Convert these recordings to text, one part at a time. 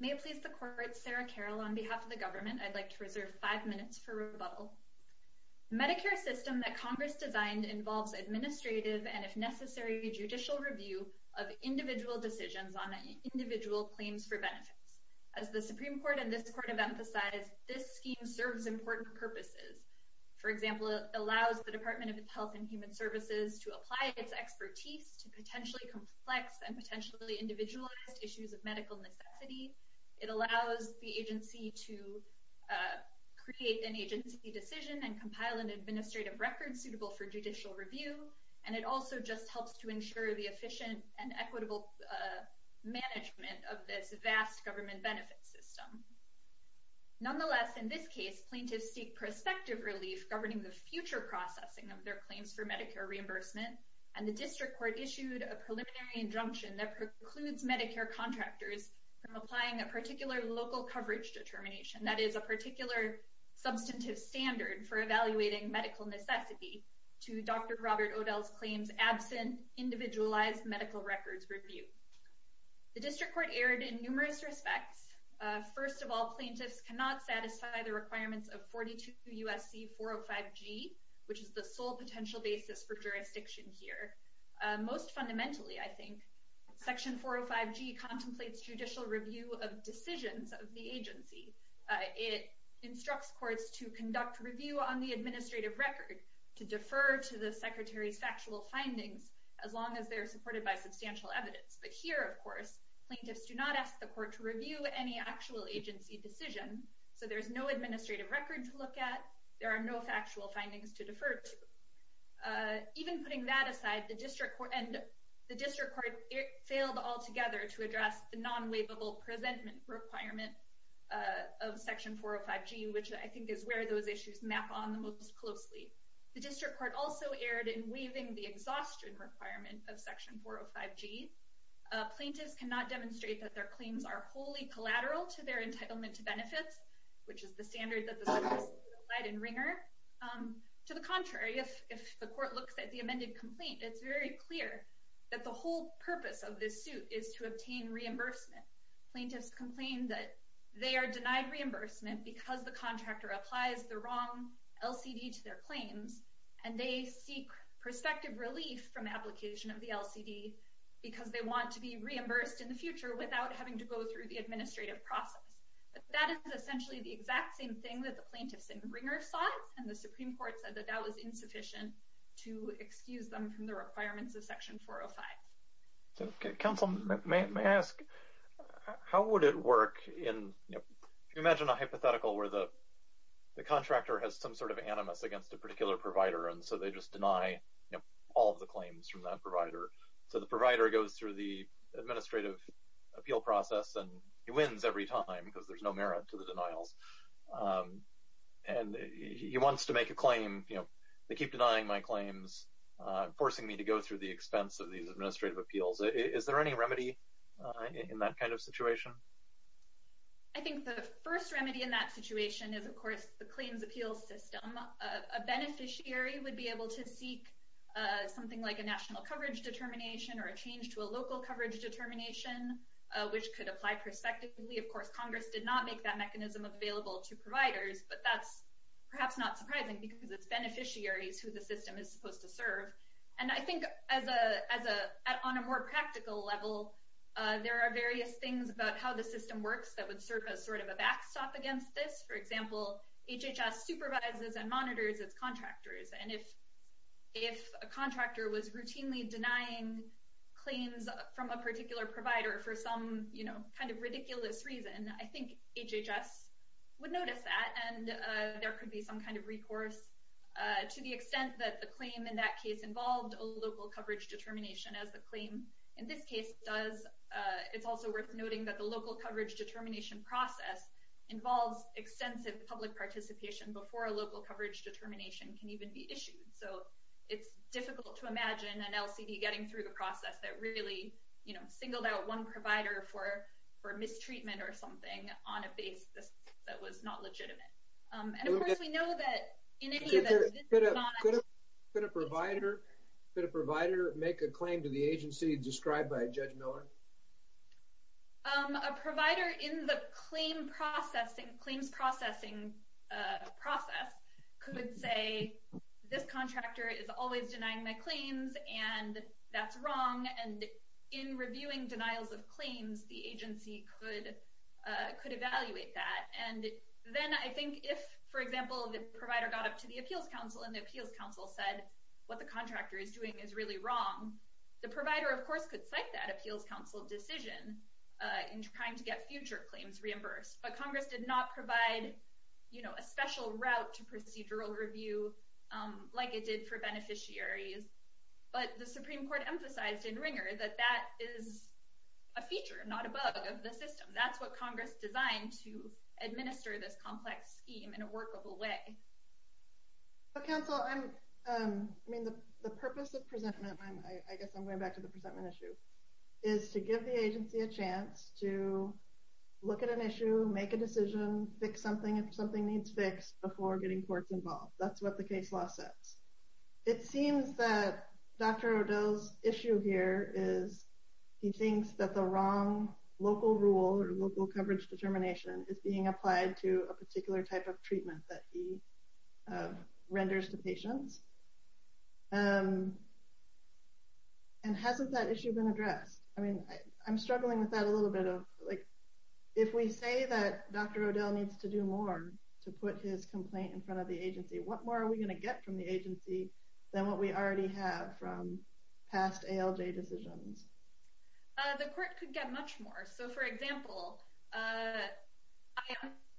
May it please the Court, Sarah Carroll, on behalf of the government, I'd like to reserve five minutes for rebuttal. The Medicare system that Congress designed involves administrative and, if necessary, judicial review of individual decisions on individual claims for benefits. As the Supreme Court and this Court have emphasized, this scheme serves important purposes. For example, it allows the Department of Health and Human Services to apply its expertise to potentially complex and potentially individualized issues of medical necessity. It allows the agency to create an agency decision and compile an administrative record suitable for judicial review. And it also just helps to ensure the efficient and equitable management of this vast government benefits system. Nonetheless, in this case, plaintiffs seek prospective relief governing the future processing of their claims for Medicare reimbursement, and the District Court issued a preliminary injunction that precludes Medicare contractors from applying a particular local coverage determination, that is, a particular substantive standard for evaluating medical necessity, to Dr. Robert Odell's claims absent individualized medical records review. The District Court erred in numerous respects. First of all, plaintiffs cannot satisfy the requirements of 42 U.S.C. 405G, which is the sole potential basis for jurisdiction here. Most fundamentally, I think, Section 405G contemplates judicial review of decisions of the agency. It instructs courts to conduct review on the administrative record, to defer to the Secretary's factual findings, as long as they're supported by substantial evidence. But here, of course, plaintiffs do not ask the court to review any actual agency decision. So there's no administrative record to look at. There are no factual findings to defer to. Even putting that aside, the District Court failed altogether to address the non-waivable presentment requirement of Section 405G, which I think is where those issues map on the most closely. The District Court also erred in waiving the exhaustion requirement of Section 405G. Plaintiffs cannot demonstrate that their claims are wholly collateral to their entitlement to benefits, which is the standard that the Supreme Court applied in Ringer. To the contrary, if the court looks at the amended complaint, it's very clear that the whole purpose of this suit is to obtain reimbursement. Plaintiffs complain that they are denied reimbursement because the contractor applies the wrong LCD to their claims, and they seek prospective relief from application of the LCD because they want to be reimbursed in the future without having to go through the administrative process. But that is essentially the exact same thing that the plaintiffs in Ringer sought, and the Supreme Court said that that was insufficient to excuse them from the requirements of Section 405. Okay. Counsel, may I ask, how would it work in, you know, if you imagine a hypothetical where the contractor has some sort of animus against a particular provider, and so they just deny all of the claims from that provider. So the provider goes through the administrative appeal process, and he wins every time because there's no merit to the denials. And he wants to make a claim, you know, they keep denying my claims, forcing me to go through the expense of these administrative appeals. Is there any remedy in that kind of situation? I think the first remedy in that situation is, of course, the claims appeal system. A beneficiary would be able to seek something like a national coverage determination or a change to a local coverage determination, which could apply prospectively. Of course, Congress did not make that mechanism available to providers, but that's perhaps not surprising because it's beneficiaries who the system is supposed to serve. And I think on a more practical level, there are various things about how the system works that would serve as sort of a backstop against this. For example, HHS supervises and monitors its contractors, and if a contractor was routinely denying claims from a particular provider for some kind of ridiculous reason, I think HHS would notice that, and there could be some kind of recourse. To the extent that the claim in that case involved a local coverage determination, as the claim in this case does, it's also worth noting that the local coverage determination process involves extensive public participation before a local coverage determination can even be issued. So it's difficult to imagine an LCD getting through the process that really singled out one provider for mistreatment or something on a basis that was not legitimate. Could a provider make a claim to the agency described by Judge Miller? A provider in the claims processing process could say, this contractor is always denying my claims and that's wrong, and in reviewing denials of claims, the agency could evaluate that. And then I think if, for example, the provider got up to the appeals council and the appeals council said what the contractor is doing is really wrong, the provider, of course, could cite that appeals council decision in trying to get future claims reimbursed. But Congress did not provide a special route to procedural review like it did for beneficiaries. But the Supreme Court emphasized in Ringer that that is a feature, not a bug, of the system. That's what Congress designed to administer this complex scheme in a workable way. Council, the purpose of presentment, I guess I'm going back to the presentment issue, is to give the agency a chance to look at an issue, make a decision, fix something if something needs fixed before getting courts involved. That's what the case law says. It seems that Dr. O'Dell's issue here is he thinks that the wrong local rule or local coverage determination is being applied to a particular type of treatment that he renders to patients. And hasn't that issue been addressed? I mean, I'm struggling with that a little bit. If we say that Dr. O'Dell needs to do more to put his complaint in front of the agency, what more are we going to get from the agency than what we already have from past ALJ decisions? The court could get much more. So, for example, I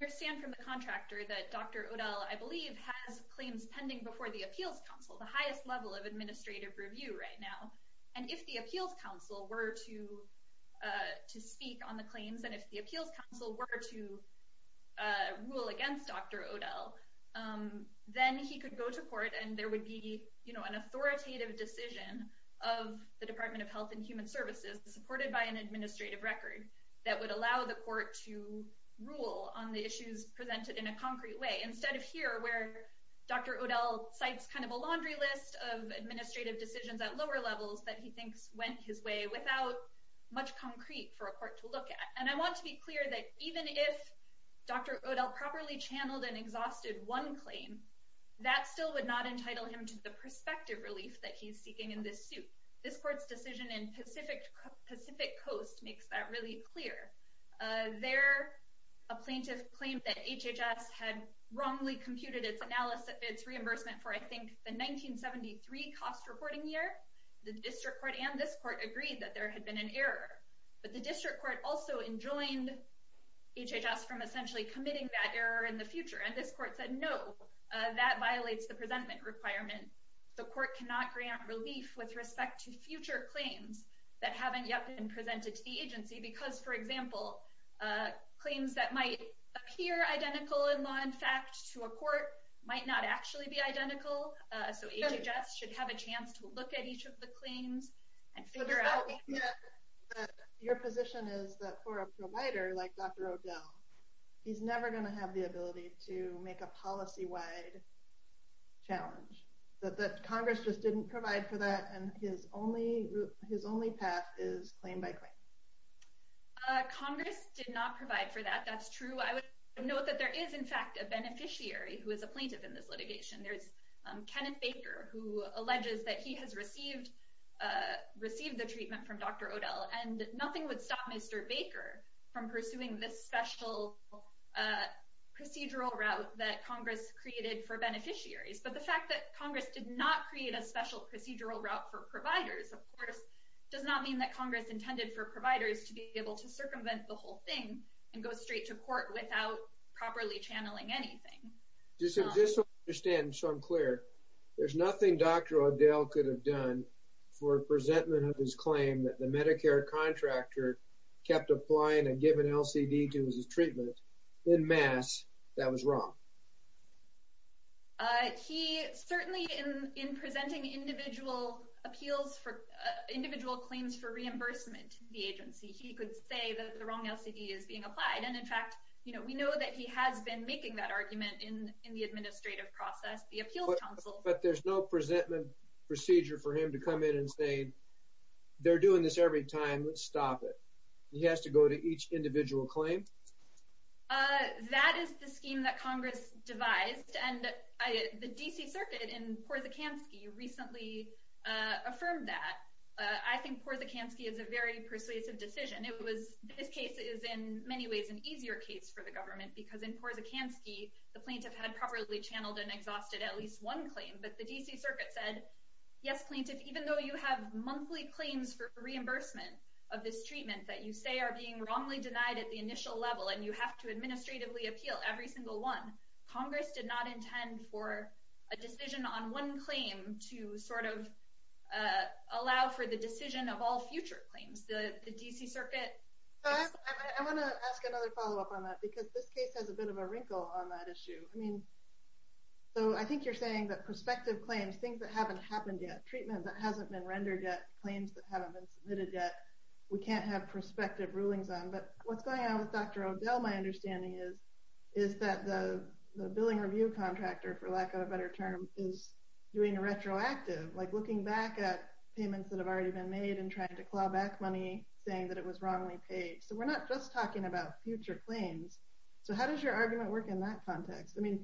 understand from the contractor that Dr. O'Dell, I believe, has claims pending before the appeals council, the highest level of administrative review right now. And if the appeals council were to speak on the claims and if the appeals council were to rule against Dr. O'Dell, then he could go to court and there would be an authoritative decision of the Department of Health and Human Services, supported by an administrative record, that would allow the court to rule on the issues presented in a concrete way. Instead of here, where Dr. O'Dell cites kind of a laundry list of administrative decisions at lower levels that he thinks went his way, without much concrete for a court to look at. And I want to be clear that even if Dr. O'Dell properly channeled and exhausted one claim, that still would not entitle him to the prospective relief that he's seeking in this suit. This court's decision in Pacific Coast makes that really clear. There, a plaintiff claimed that HHS had wrongly computed its reimbursement for, I think, the 1973 cost reporting year. The district court and this court agreed that there had been an error. But the district court also enjoined HHS from essentially committing that error in the future. And this court said, no, that violates the presentment requirement. The court cannot grant relief with respect to future claims that haven't yet been presented to the agency. Because, for example, claims that might appear identical in law and fact to a court might not actually be identical. So HHS should have a chance to look at each of the claims and figure out. Your position is that for a provider like Dr. O'Dell, he's never going to have the ability to make a policy-wide challenge. That Congress just didn't provide for that, and his only path is claim by claim. Congress did not provide for that, that's true. I would note that there is, in fact, a beneficiary who is a plaintiff in this litigation. There's Kenneth Baker, who alleges that he has received the treatment from Dr. O'Dell. And nothing would stop Mr. Baker from pursuing this special procedural route that Congress created for beneficiaries. But the fact that Congress did not create a special procedural route for providers, of course, does not mean that Congress intended for providers to be able to circumvent the whole thing and go straight to court without properly channeling anything. Just to understand, so I'm clear, there's nothing Dr. O'Dell could have done for a presentment of his claim that the Medicare contractor kept applying and giving LCD to his treatment en masse that was wrong? He certainly, in presenting individual claims for reimbursement to the agency, he could say that the wrong LCD is being applied. And in fact, we know that he has been making that argument in the administrative process. But there's no presentment procedure for him to come in and say, they're doing this every time, let's stop it. He has to go to each individual claim? That is the scheme that Congress devised. And the D.C. Circuit in Porzakansky recently affirmed that. I think Porzakansky is a very persuasive decision. This case is in many ways an easier case for the government because in Porzakansky, the plaintiff had properly channeled and exhausted at least one claim. But the D.C. Circuit said, yes, plaintiff, even though you have monthly claims for reimbursement of this treatment that you say are being wrongly denied at the initial level and you have to administratively appeal every single one, Congress did not intend for a decision on one claim to sort of allow for the decision of all future claims. The D.C. Circuit... I want to ask another follow-up on that because this case has a bit of a wrinkle on that issue. So I think you're saying that prospective claims, things that haven't happened yet, treatment that hasn't been rendered yet, claims that haven't been submitted yet, we can't have prospective rulings on. But what's going on with Dr. O'Dell, my understanding is, is that the billing review contractor, for lack of a better term, is doing a retroactive, like looking back at payments that have already been made and trying to claw back money, saying that it was wrongly paid. So we're not just talking about future claims. So how does your argument work in that context? I mean,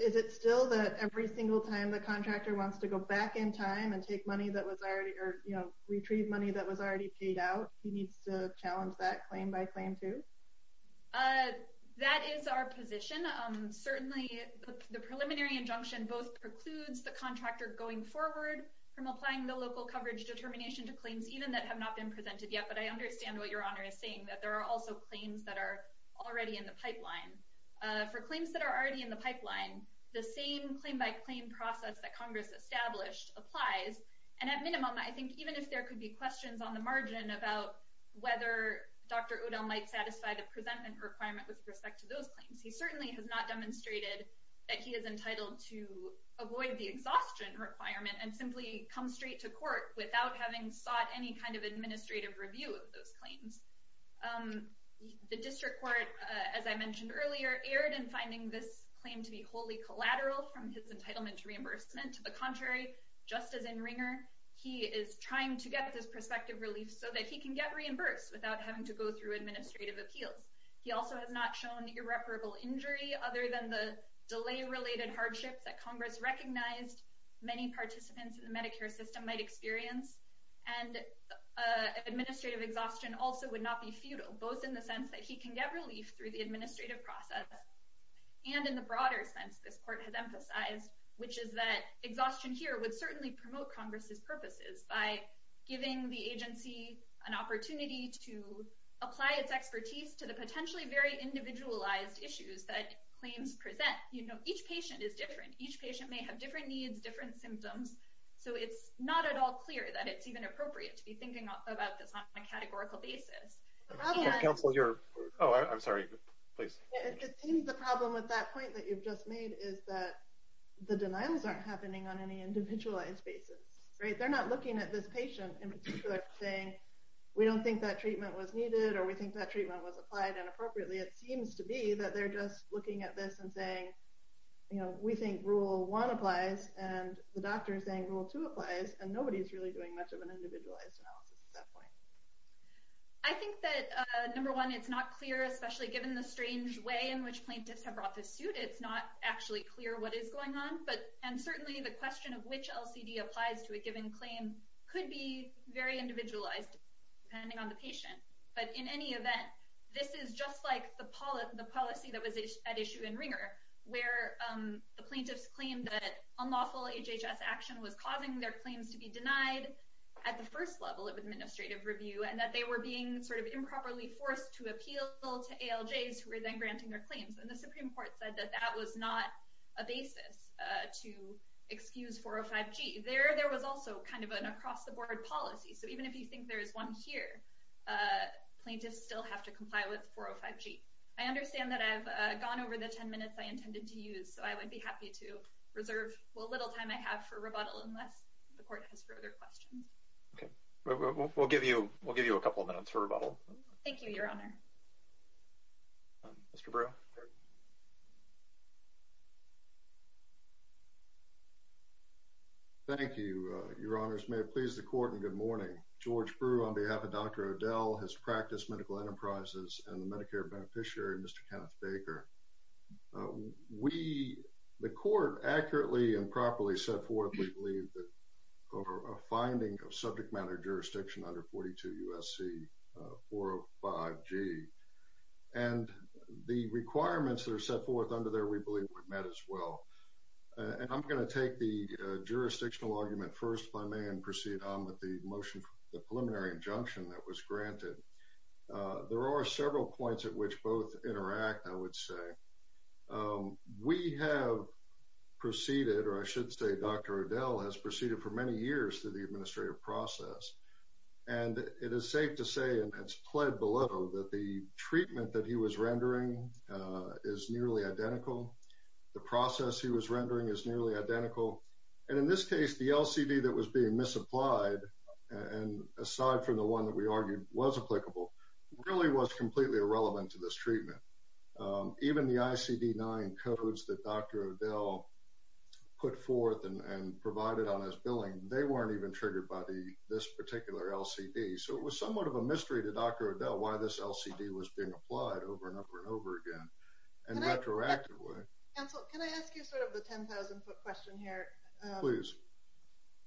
is it still that every single time the contractor wants to go back in time and take money that was already, or, you know, retrieve money that was already paid out, he needs to challenge that claim by claim too? That is our position. Certainly the preliminary injunction both precludes the contractor going forward from applying the local coverage determination to claims even that have not been presented yet. But I understand what Your Honor is saying, that there are also claims that are already in the pipeline. For claims that are already in the pipeline, the same claim-by-claim process that Congress established applies. And at minimum, I think even if there could be questions on the margin about whether Dr. O'Dell might satisfy the presentment requirement with respect to those claims, he certainly has not demonstrated that he is entitled to avoid the exhaustion requirement and simply come straight to court without having sought any kind of administrative review of those claims. The district court, as I mentioned earlier, erred in finding this claim to be wholly collateral from his entitlement to reimbursement. To the contrary, just as in Ringer, he is trying to get this prospective relief so that he can get reimbursed without having to go through administrative appeals. He also has not shown irreparable injury other than the delay-related hardships that Congress recognized many participants in the Medicare system might experience. And administrative exhaustion also would not be futile, both in the sense that he can get relief through the administrative process and in the broader sense this court has emphasized, which is that exhaustion here would certainly promote Congress's purposes by giving the agency an opportunity to apply its expertise to the potentially very individualized issues that claims present. You know, each patient is different. Each patient may have different needs, different symptoms. So it's not at all clear that it's even appropriate to be thinking about this on a categorical basis. It seems the problem with that point that you've just made is that the denials aren't happening on any individualized basis, right? They're not looking at this patient in particular saying, we don't think that treatment was needed or we think that treatment was applied inappropriately. It seems to be that they're just looking at this and saying, we think rule one applies and the doctor is saying rule two applies and nobody is really doing much of an individualized analysis at that point. I think that number one, it's not clear, especially given the strange way in which plaintiffs have brought this suit, it's not actually clear what is going on. And certainly the question of which LCD applies to a given claim could be very individualized depending on the patient. But in any event, this is just like the policy that was at issue in Ringer, where the plaintiffs claimed that unlawful HHS action was causing their claims to be denied at the first level of administrative review and that they were being sort of improperly forced to appeal to ALJs who were then granting their claims. And the Supreme Court said that that was not a basis to excuse 405G. There was also kind of an across-the-board policy. So even if you think there is one here, plaintiffs still have to comply with 405G. I understand that I've gone over the ten minutes I intended to use, so I would be happy to reserve the little time I have for rebuttal unless the Court has further questions. Okay. We'll give you a couple of minutes for rebuttal. Thank you, Your Honor. Mr. Brewer. Thank you, Your Honors. May it please the Court and good morning. George Brewer, on behalf of Dr. O'Dell, has practiced medical enterprises and the Medicare beneficiary, Mr. Kenneth Baker. The Court accurately and properly set forth, we believe, a finding of subject matter jurisdiction under 42 U.S.C. 405G. And the requirements that are set forth under there, we believe, were met as well. And I'm going to take the jurisdictional argument first, if I may, and proceed on with the motion for the preliminary injunction that was granted. There are several points at which both interact, I would say. We have proceeded, or I should say Dr. O'Dell has proceeded for many years through the administrative process. And it is safe to say, and it's pled below, that the treatment that he was rendering is nearly identical. The process he was rendering is nearly identical. And in this case, the LCD that was being misapplied, and aside from the one that we argued was applicable, really was completely irrelevant to this treatment. Even the ICD-9 codes that Dr. O'Dell put forth and provided on his billing, they weren't even triggered by this particular LCD. So it was somewhat of a mystery to Dr. O'Dell why this LCD was being applied over and over and over again in a retroactive way. Can I ask you sort of the 10,000-foot question here? Please.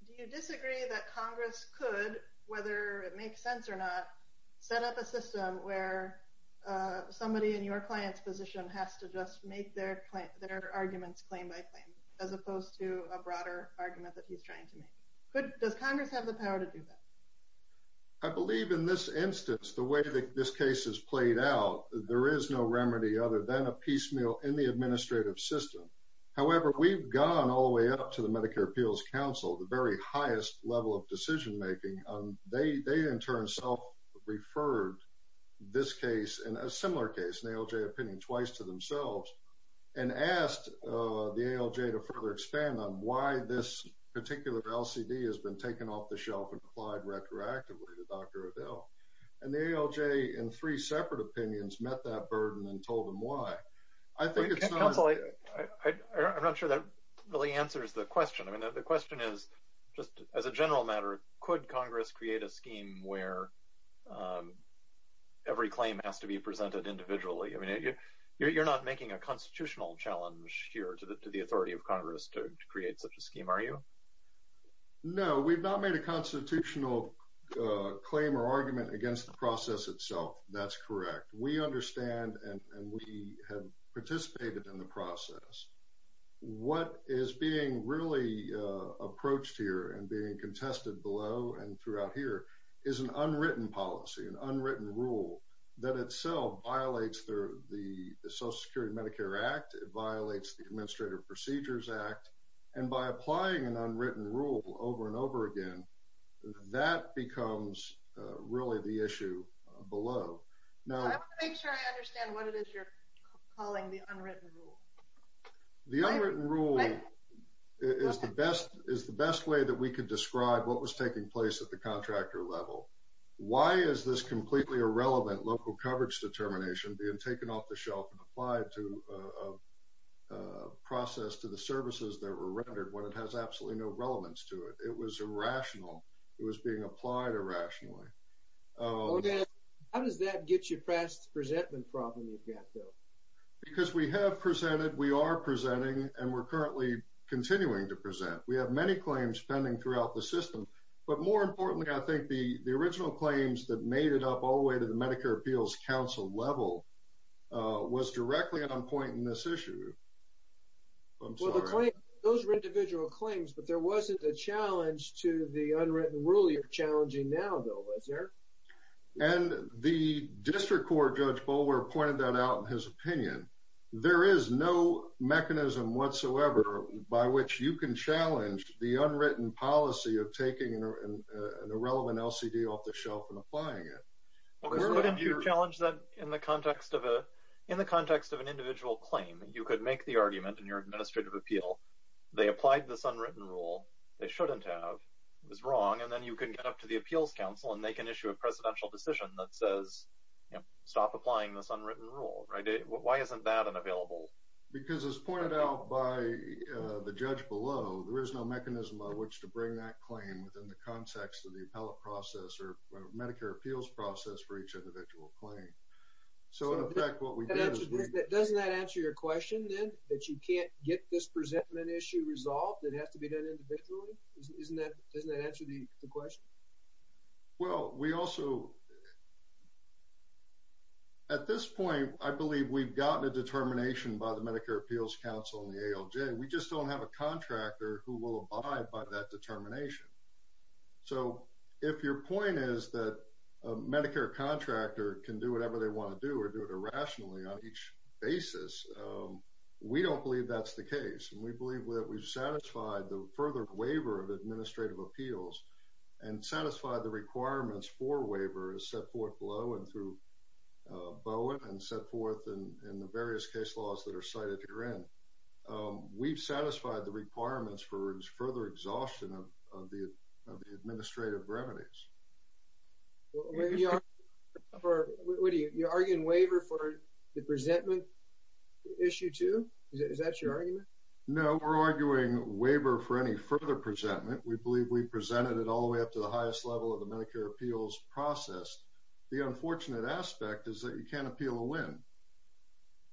Do you disagree that Congress could, whether it makes sense or not, set up a system where somebody in your client's position has to just make their arguments claim by claim as opposed to a broader argument that he's trying to make? Does Congress have the power to do that? I believe in this instance, the way that this case is played out, there is no remedy other than a piecemeal in the administrative system. However, we've gone all the way up to the Medicare Appeals Council, the very highest level of decision-making. They in turn self-referred this case and a similar case, an ALJ opinion twice to themselves, and asked the ALJ to further expand on why this particular LCD has been taken off the shelf and applied retroactively to Dr. O'Dell. And the ALJ in three separate opinions met that burden and told them why. Counsel, I'm not sure that really answers the question. The question is, just as a general matter, could Congress create a scheme where every claim has to be presented individually? I mean, you're not making a constitutional challenge here to the authority of Congress to create such a scheme, are you? No, we've not made a constitutional claim or argument against the process itself. That's correct. We understand and we have participated in the process. What is being really approached here and being contested below and throughout here is an unwritten policy, an unwritten rule, that itself violates the Social Security Medicare Act. It violates the Administrative Procedures Act. And by applying an unwritten rule over and over again, that becomes really the issue below. I want to make sure I understand what it is you're calling the unwritten rule. The unwritten rule is the best way that we could describe what was taking place at the contractor level. Why is this completely irrelevant local coverage determination being taken off the shelf and applied to a process to the services that were rendered when it has absolutely no relevance to it? It was irrational. It was being applied irrationally. How does that get you past the presentment problem you've got, though? Because we have presented, we are presenting, and we're currently continuing to present. We have many claims pending throughout the system. But more importantly, I think the original claims that made it up all the way to the Medicare Appeals Council level was directly on point in this issue. I'm sorry. Those were individual claims, but there wasn't a challenge to the unwritten rule you're challenging now, though, was there? And the District Court Judge Bolwer pointed that out in his opinion. There is no mechanism whatsoever by which you can challenge the unwritten policy of taking an irrelevant LCD off the shelf and applying it. We're going to challenge that in the context of an individual claim. You could make the argument in your administrative appeal, they applied this unwritten rule, they shouldn't have, it was wrong, and then you can get up to the Appeals Council and they can issue a presidential decision that says stop applying this unwritten rule. Why isn't that available? Because as pointed out by the judge below, there is no mechanism by which to bring that claim within the context of the appellate process or Medicare appeals process for each individual claim. So, in effect, what we did is we – Doesn't that answer your question, then, that you can't get this presentment issue resolved? It has to be done individually? Doesn't that answer the question? Well, we also – at this point, I believe we've gotten a determination by the Medicare Appeals Council and the ALJ, we just don't have a contractor who will abide by that determination. So, if your point is that a Medicare contractor can do whatever they want to do or do it irrationally on each basis, we don't believe that's the case. And we believe that we've satisfied the further waiver of administrative appeals and satisfied the requirements for waiver as set forth below and through BOA and set forth in the various case laws that are cited herein. We've satisfied the requirements for further exhaustion of the administrative remedies. What are you – you're arguing waiver for the presentment issue, too? Is that your argument? No, we're arguing waiver for any further presentment. We believe we presented it all the way up to the highest level of the Medicare appeals process. The unfortunate aspect is that you can't appeal a win.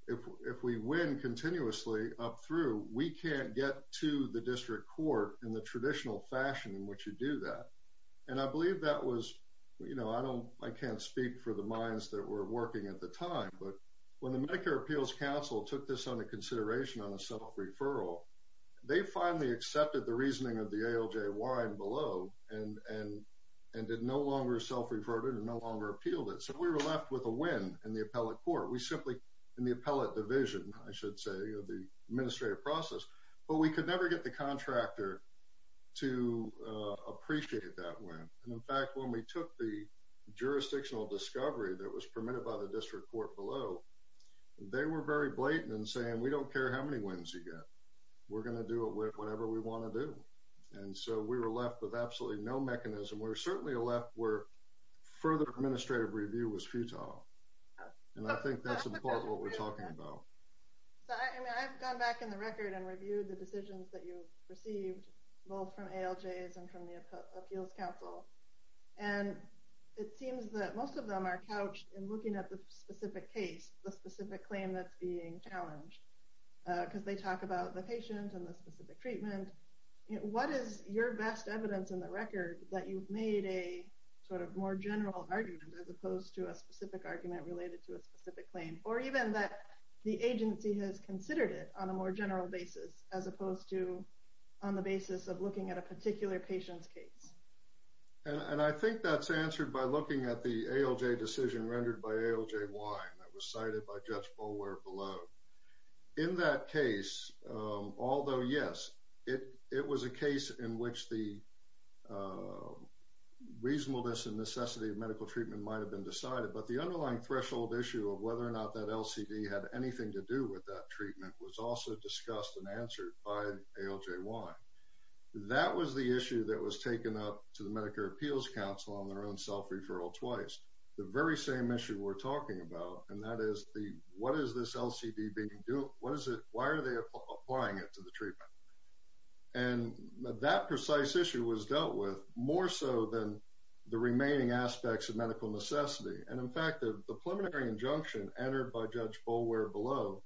If we win continuously up through, we can't get to the district court in the traditional fashion in which you do that. And I believe that was – you know, I can't speak for the minds that were working at the time, but when the Medicare Appeals Council took this under consideration on a self-referral, they finally accepted the reasoning of the ALJY and below and did no longer self-referred it and no longer appealed it. So we were left with a win in the appellate court. We simply – in the appellate division, I should say, of the administrative process. But we could never get the contractor to appreciate that win. And, in fact, when we took the jurisdictional discovery that was permitted by the district court below, they were very blatant in saying, we don't care how many wins you get. We're going to do it with whatever we want to do. And so we were left with absolutely no mechanism. We were certainly left where further administrative review was futile. And I think that's what we're talking about. So, I mean, I've gone back in the record and reviewed the decisions that you've received, both from ALJs and from the appeals council. And it seems that most of them are couched in looking at the specific case, the specific claim that's being challenged. Because they talk about the patient and the specific treatment. What is your best evidence in the record that you've made a sort of more general argument as opposed to a specific argument related to a specific claim? Or even that the agency has considered it on a more general basis as opposed to on the basis of looking at a particular patient's case. And I think that's answered by looking at the ALJ decision rendered by ALJ Wein that was cited by Judge Boulware below. In that case, although yes, it was a case in which the reasonableness and necessity of medical treatment might've been decided, but the underlying threshold issue of whether or not that LCD had anything to do with the treatment was answered by ALJ Wein. That was the issue that was taken up to the Medicare appeals council on their own self-referral twice. The very same issue we're talking about. And that is the, what is this LCD being doing? What is it? Why are they applying it to the treatment? And that precise issue was dealt with more so than the remaining aspects of medical necessity. And in fact, the preliminary injunction entered by Judge Boulware below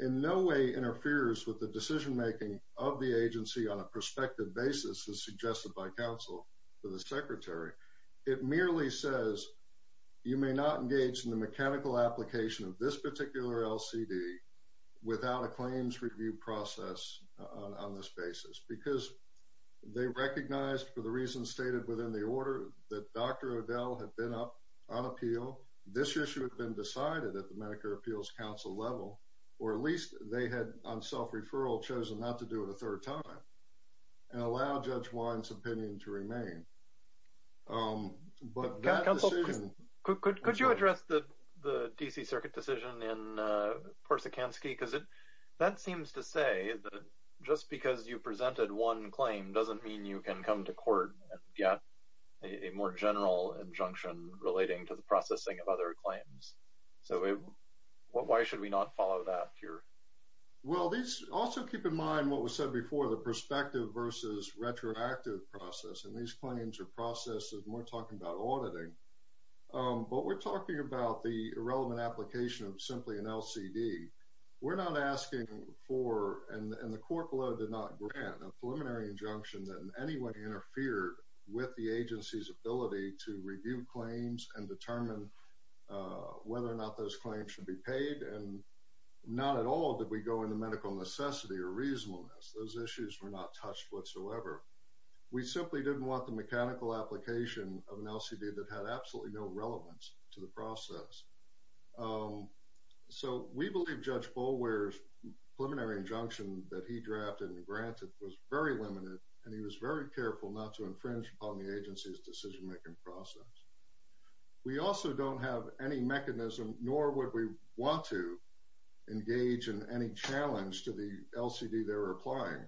in no way interferes with the decision-making of the agency on a prospective basis as suggested by counsel to the secretary. It merely says you may not engage in the mechanical application of this particular LCD without a claims review process on this basis because they recognized for the reasons stated within the order that Dr. Odell had been up on appeal. This issue had been decided at the Medicare appeals council level, or at least they had on self-referral chosen not to do it a third time and allow Judge Wein's opinion to remain. But that decision. Could you address the DC circuit decision in Porsakansky? Because it, that seems to say that just because you presented one claim doesn't mean you can come to court and get a more general injunction relating to the processing of other claims. So what, why should we not follow that cure? Well, these also keep in mind what was said before the perspective versus retroactive process. And these claims are processes more talking about auditing. But we're talking about the irrelevant application of simply an LCD. We're not asking for, and the court below did not grant a preliminary injunction that anyone interfered with the agency's ability to review claims and determine what whether or not those claims should be paid. And not at all. Did we go into medical necessity or reasonableness? Those issues were not touched whatsoever. We simply didn't want the mechanical application of an LCD that had absolutely no relevance to the process. So we believe judge bowl, where's preliminary injunction that he drafted and granted was very limited. And he was very careful not to infringe upon the agency's decision-making process. We also don't have any mechanism, nor would we want to engage in any challenge to the LCD. They're applying.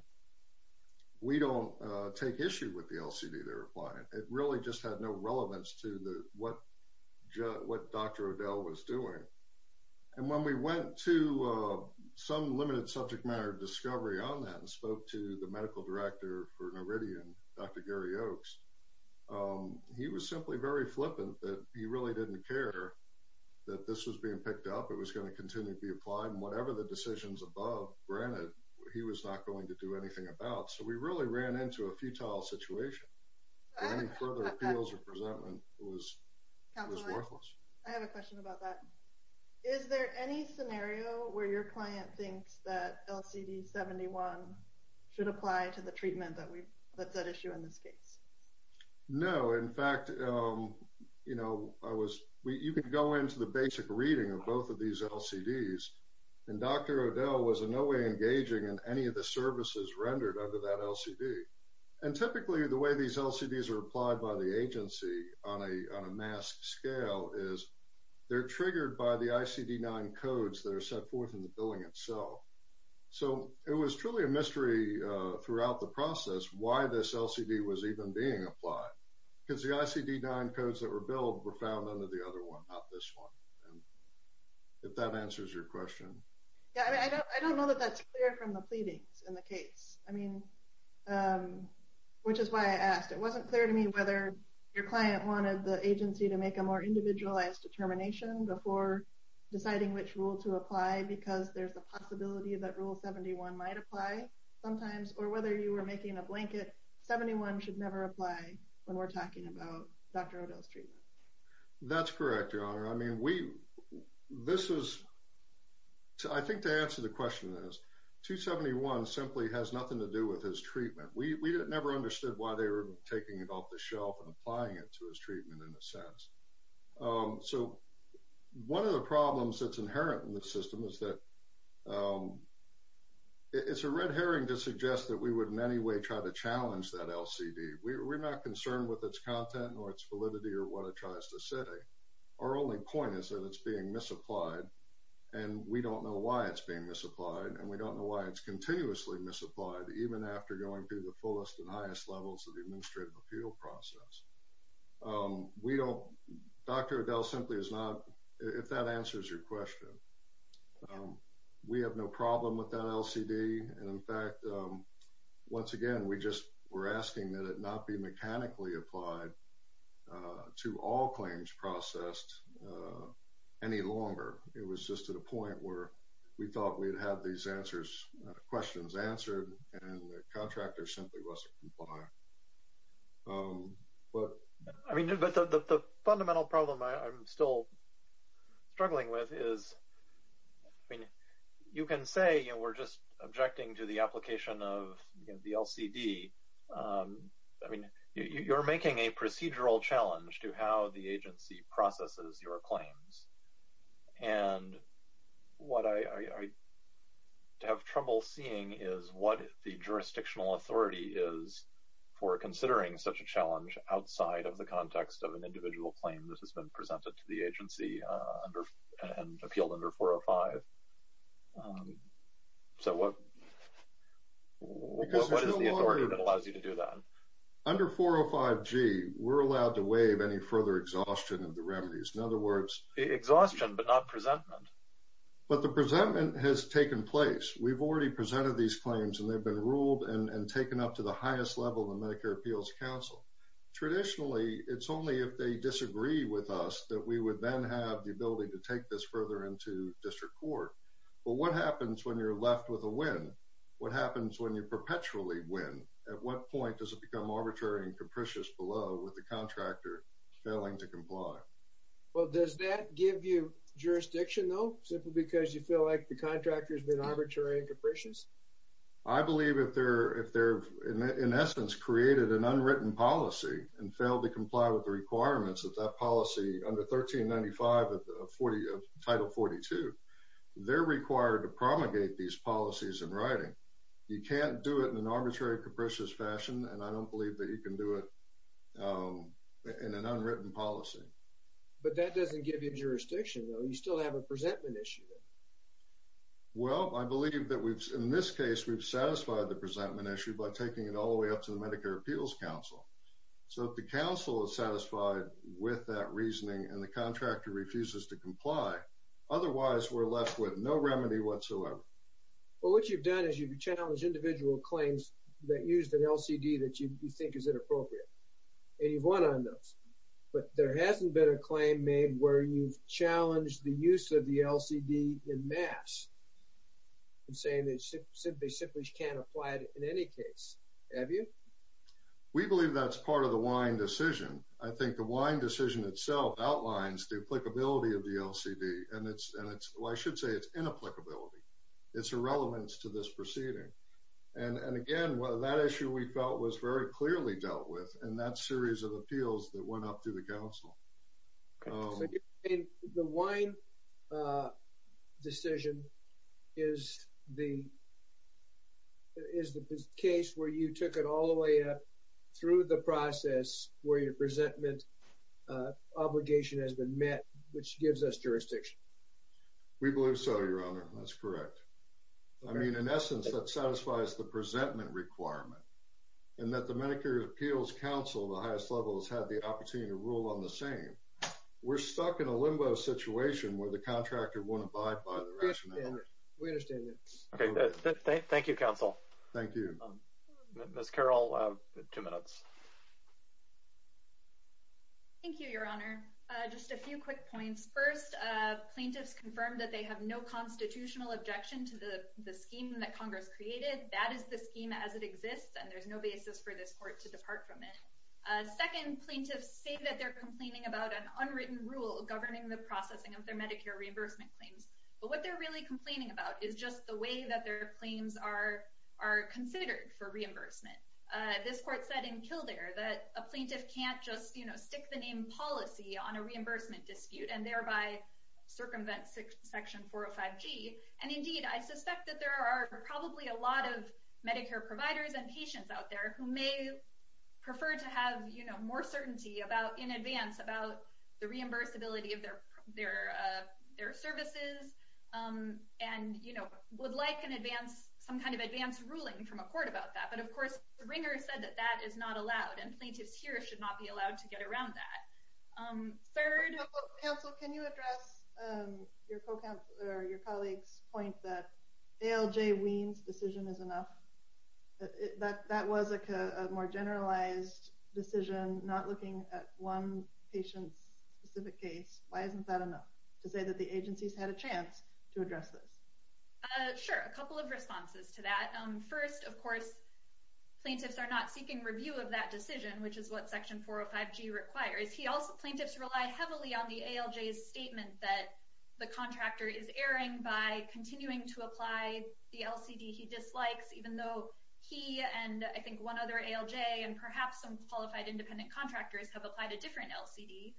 We don't take issue with the LCD. They're applying. It really just had no relevance to the, what Jeff, what Dr. Odell was doing. And when we went to some limited subject matter, discovery on that and spoke to the medical director for Noridian, Dr. Gary Oakes. He was simply very flippant that he really didn't care that this was being picked up. It was going to continue to be applied and whatever the decisions above granted, he was not going to do anything about. So we really ran into a futile situation. I have a question about that. Is there any scenario where your client thinks that LCD 71 should apply to the treatment that we've let that issue in this case? No. In fact, you know, I was, you can go into the basic reading of both of these LCDs and Dr. Odell was in no way engaging in any of the services rendered under that LCD. And typically the way these LCDs are applied by the agency on a, on a mass scale is they're triggered by the ICD nine codes that are set forth in the billing itself. So it was truly a mystery throughout the process why this LCD was even being applied because the ICD nine codes that were billed were found under the other one, not this one. And if that answers your question, I don't know that that's clear from the pleadings in the case. I mean, which is why I asked, it wasn't clear to me whether your client wanted the agency to make a more individualized determination before deciding which rule to apply, because there's a possibility that rule 71 might apply sometimes, or whether you were making a blanket 71 should never apply when we're talking about Dr. Odell's treatment. That's correct. Your honor. I mean, we, this is, I think to answer the question is 271 simply has nothing to do with his treatment. We never understood why they were taking it off the shelf and applying it to his treatment in a sense. So one of the problems that's inherent in the system is that it's a red herring to suggest that we would in any way try to challenge that LCD. We're not concerned with its content or its validity or what it tries to say. Our only point is that it's being misapplied and we don't know why it's being misapplied. And we don't know why it's continuously misapplied. Even after going through the fullest and highest levels of the administrative appeal process. Um, we don't Dr. Odell simply is not, if that answers your question, um, we have no problem with that LCD. And in fact, um, once again, we just were asking that it not be mechanically applied, uh, to all claims processed, uh, any longer. It was just to the point where we thought we'd have these answers, uh, questions answered and the contractor simply wasn't compliant. Um, I mean, but the fundamental problem I'm still struggling with is, I mean, you can say, you know, we're just objecting to the application of the LCD. Um, I mean, you're making a procedural challenge to how the agency processes your claims. And what I, I, I have trouble seeing is what the jurisdictional authority is for considering such a challenge outside of the context of an individual claim. This has been presented to the agency, uh, under and appealed under four or five. Um, so what, what, what is the authority that allows you to do that? Under four or five G we're allowed to waive any further exhaustion of the remedies. In other words, exhaustion, but not presentment, but the presentment has taken place. We've already presented these claims and they've been ruled and taken up to the highest level of the Medicare appeals council. Traditionally, it's only if they disagree with us that we would then have the ability to take this further into district court. Well, what happens when you're left with a win? What happens when you perpetually win? At what point does it become arbitrary and capricious below with the contractor failing to comply? Well, does that give you jurisdiction though, simply because you feel like the contractor has been arbitrary and capricious. I believe if they're, in essence created an unwritten policy and failed to comply with the requirements of that policy under 1395 of 40 of title 42, they're required to promulgate these policies in writing. You can't do it in an arbitrary, capricious fashion. And I don't believe that you can do it in an unwritten policy, but that doesn't give you jurisdiction though. You still have a presentment issue. I believe that we've in this case, we've satisfied the presentment issue by taking it all the way up to the Medicare appeals council. So if the council is satisfied with that reasoning and the contractor refuses to comply, otherwise we're left with no remedy whatsoever. Well, what you've done is you've challenged individual claims that used an LCD that you think is inappropriate and you've won on those, but there hasn't been a claim made where you've challenged the use of the LCD in mass. I'm saying that they simply can't apply it in any case. Have you? We believe that's part of the wine decision. I think the wine decision itself outlines duplicability of the LCD and it's, and it's, well I should say it's inapplicability it's irrelevance to this proceeding. And, and again, well that issue we felt was very clearly dealt with and that series of appeals that went up through the council. So the wine decision is the, is the case where you took it all the way up through the process where your presentment obligation has been met, which gives us jurisdiction. We believe so. Your honor, that's correct. I mean, in essence that satisfies the presentment requirement and that the Medicare appeals council, the highest level has had the opportunity to rule on the same. We're stuck in a limbo situation where the contractor wouldn't abide by the rationale. We understand that. Okay. Thank you. Counsel. Thank you. Ms. Carol, two minutes. Thank you, your honor. Just a few quick points. First plaintiffs confirmed that they have no constitutional objection to the, the scheme that Congress created. That is the scheme as it exists and there's no basis for this court to depart from it. A second plaintiff say that they're complaining about an unwritten rule governing the processing of their Medicare reimbursement claims, but what they're really complaining about is just the way that their claims are, are considered for reimbursement. This court said in kill there that a plaintiff can't just, you know, stick the name policy on a reimbursement dispute and thereby circumvent section four or five G. And indeed, I suspect that there are probably a lot of Medicare providers and patients out there who may prefer to have, you know, more certainty about in advance about the reimbursability of their, their, their services. And, you know, would like an advance some kind of advanced ruling from a court about that. But of course, the ringer said that that is not allowed and plaintiffs here should not be allowed to get around that. Third. Counsel, can you address your co-counsel or your colleagues point that ALJ weans decision is enough. But that was a more generalized decision, not looking at one patient's specific case. Why isn't that enough to say that the agencies had a chance to address this? Sure. A couple of responses to that. First, of course, plaintiffs are not seeking review of that decision, which is what section four or five G requires. He also plaintiffs rely heavily on the ALJ statement that the contractor is erring by continuing to apply the LCD. He dislikes, even though he and I think one other ALJ and perhaps some qualified independent contractors have applied a different LCD,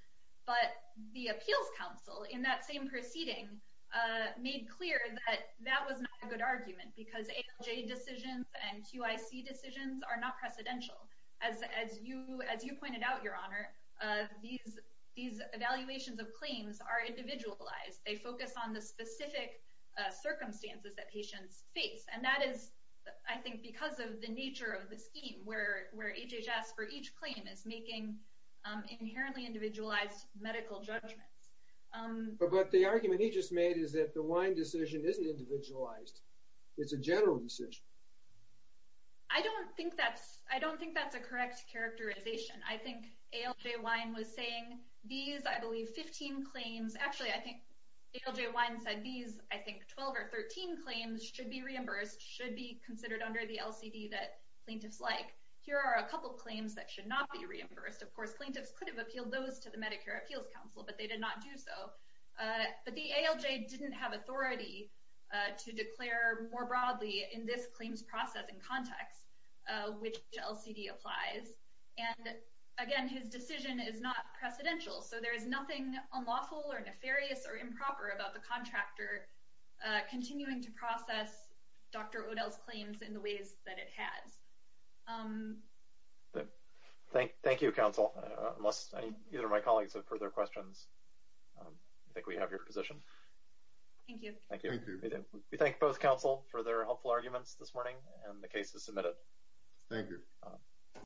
but the appeals council in that same proceeding made clear that that was not a good argument because ALJ decisions and QIC decisions are not precedential. As, as you, as you pointed out your honor these, these evaluations of claims are individualized. They focus on the specific circumstances that patients face. And that is, I think because of the nature of the scheme where, where HHS for each claim is making inherently individualized medical judgments. But the argument he just made is that the wine decision isn't individualized. It's a general decision. I don't think that's, I don't think that's a correct characterization. I think ALJ wine was saying these, I believe 15 claims. Actually, I think ALJ wine said these, I think 12 or 13 claims should be reimbursed, should be considered under the LCD that plaintiffs like here are a couple of claims that should not be reimbursed. Of course, plaintiffs could have appealed those to the Medicare appeals council, but they did not do so. But the ALJ didn't have authority to declare more broadly in this claims process and context, which LCD applies. And again, his decision is not precedential. So there is nothing unlawful or nefarious or improper about the contractor continuing to process Dr. Odell's claims in the ways that it has. Thank you. Thank you, counsel, unless either of my colleagues have further questions, I think we have your position. Thank you. Thank you. We thank both counsel for their helpful arguments this morning and the case is submitted. Thank you.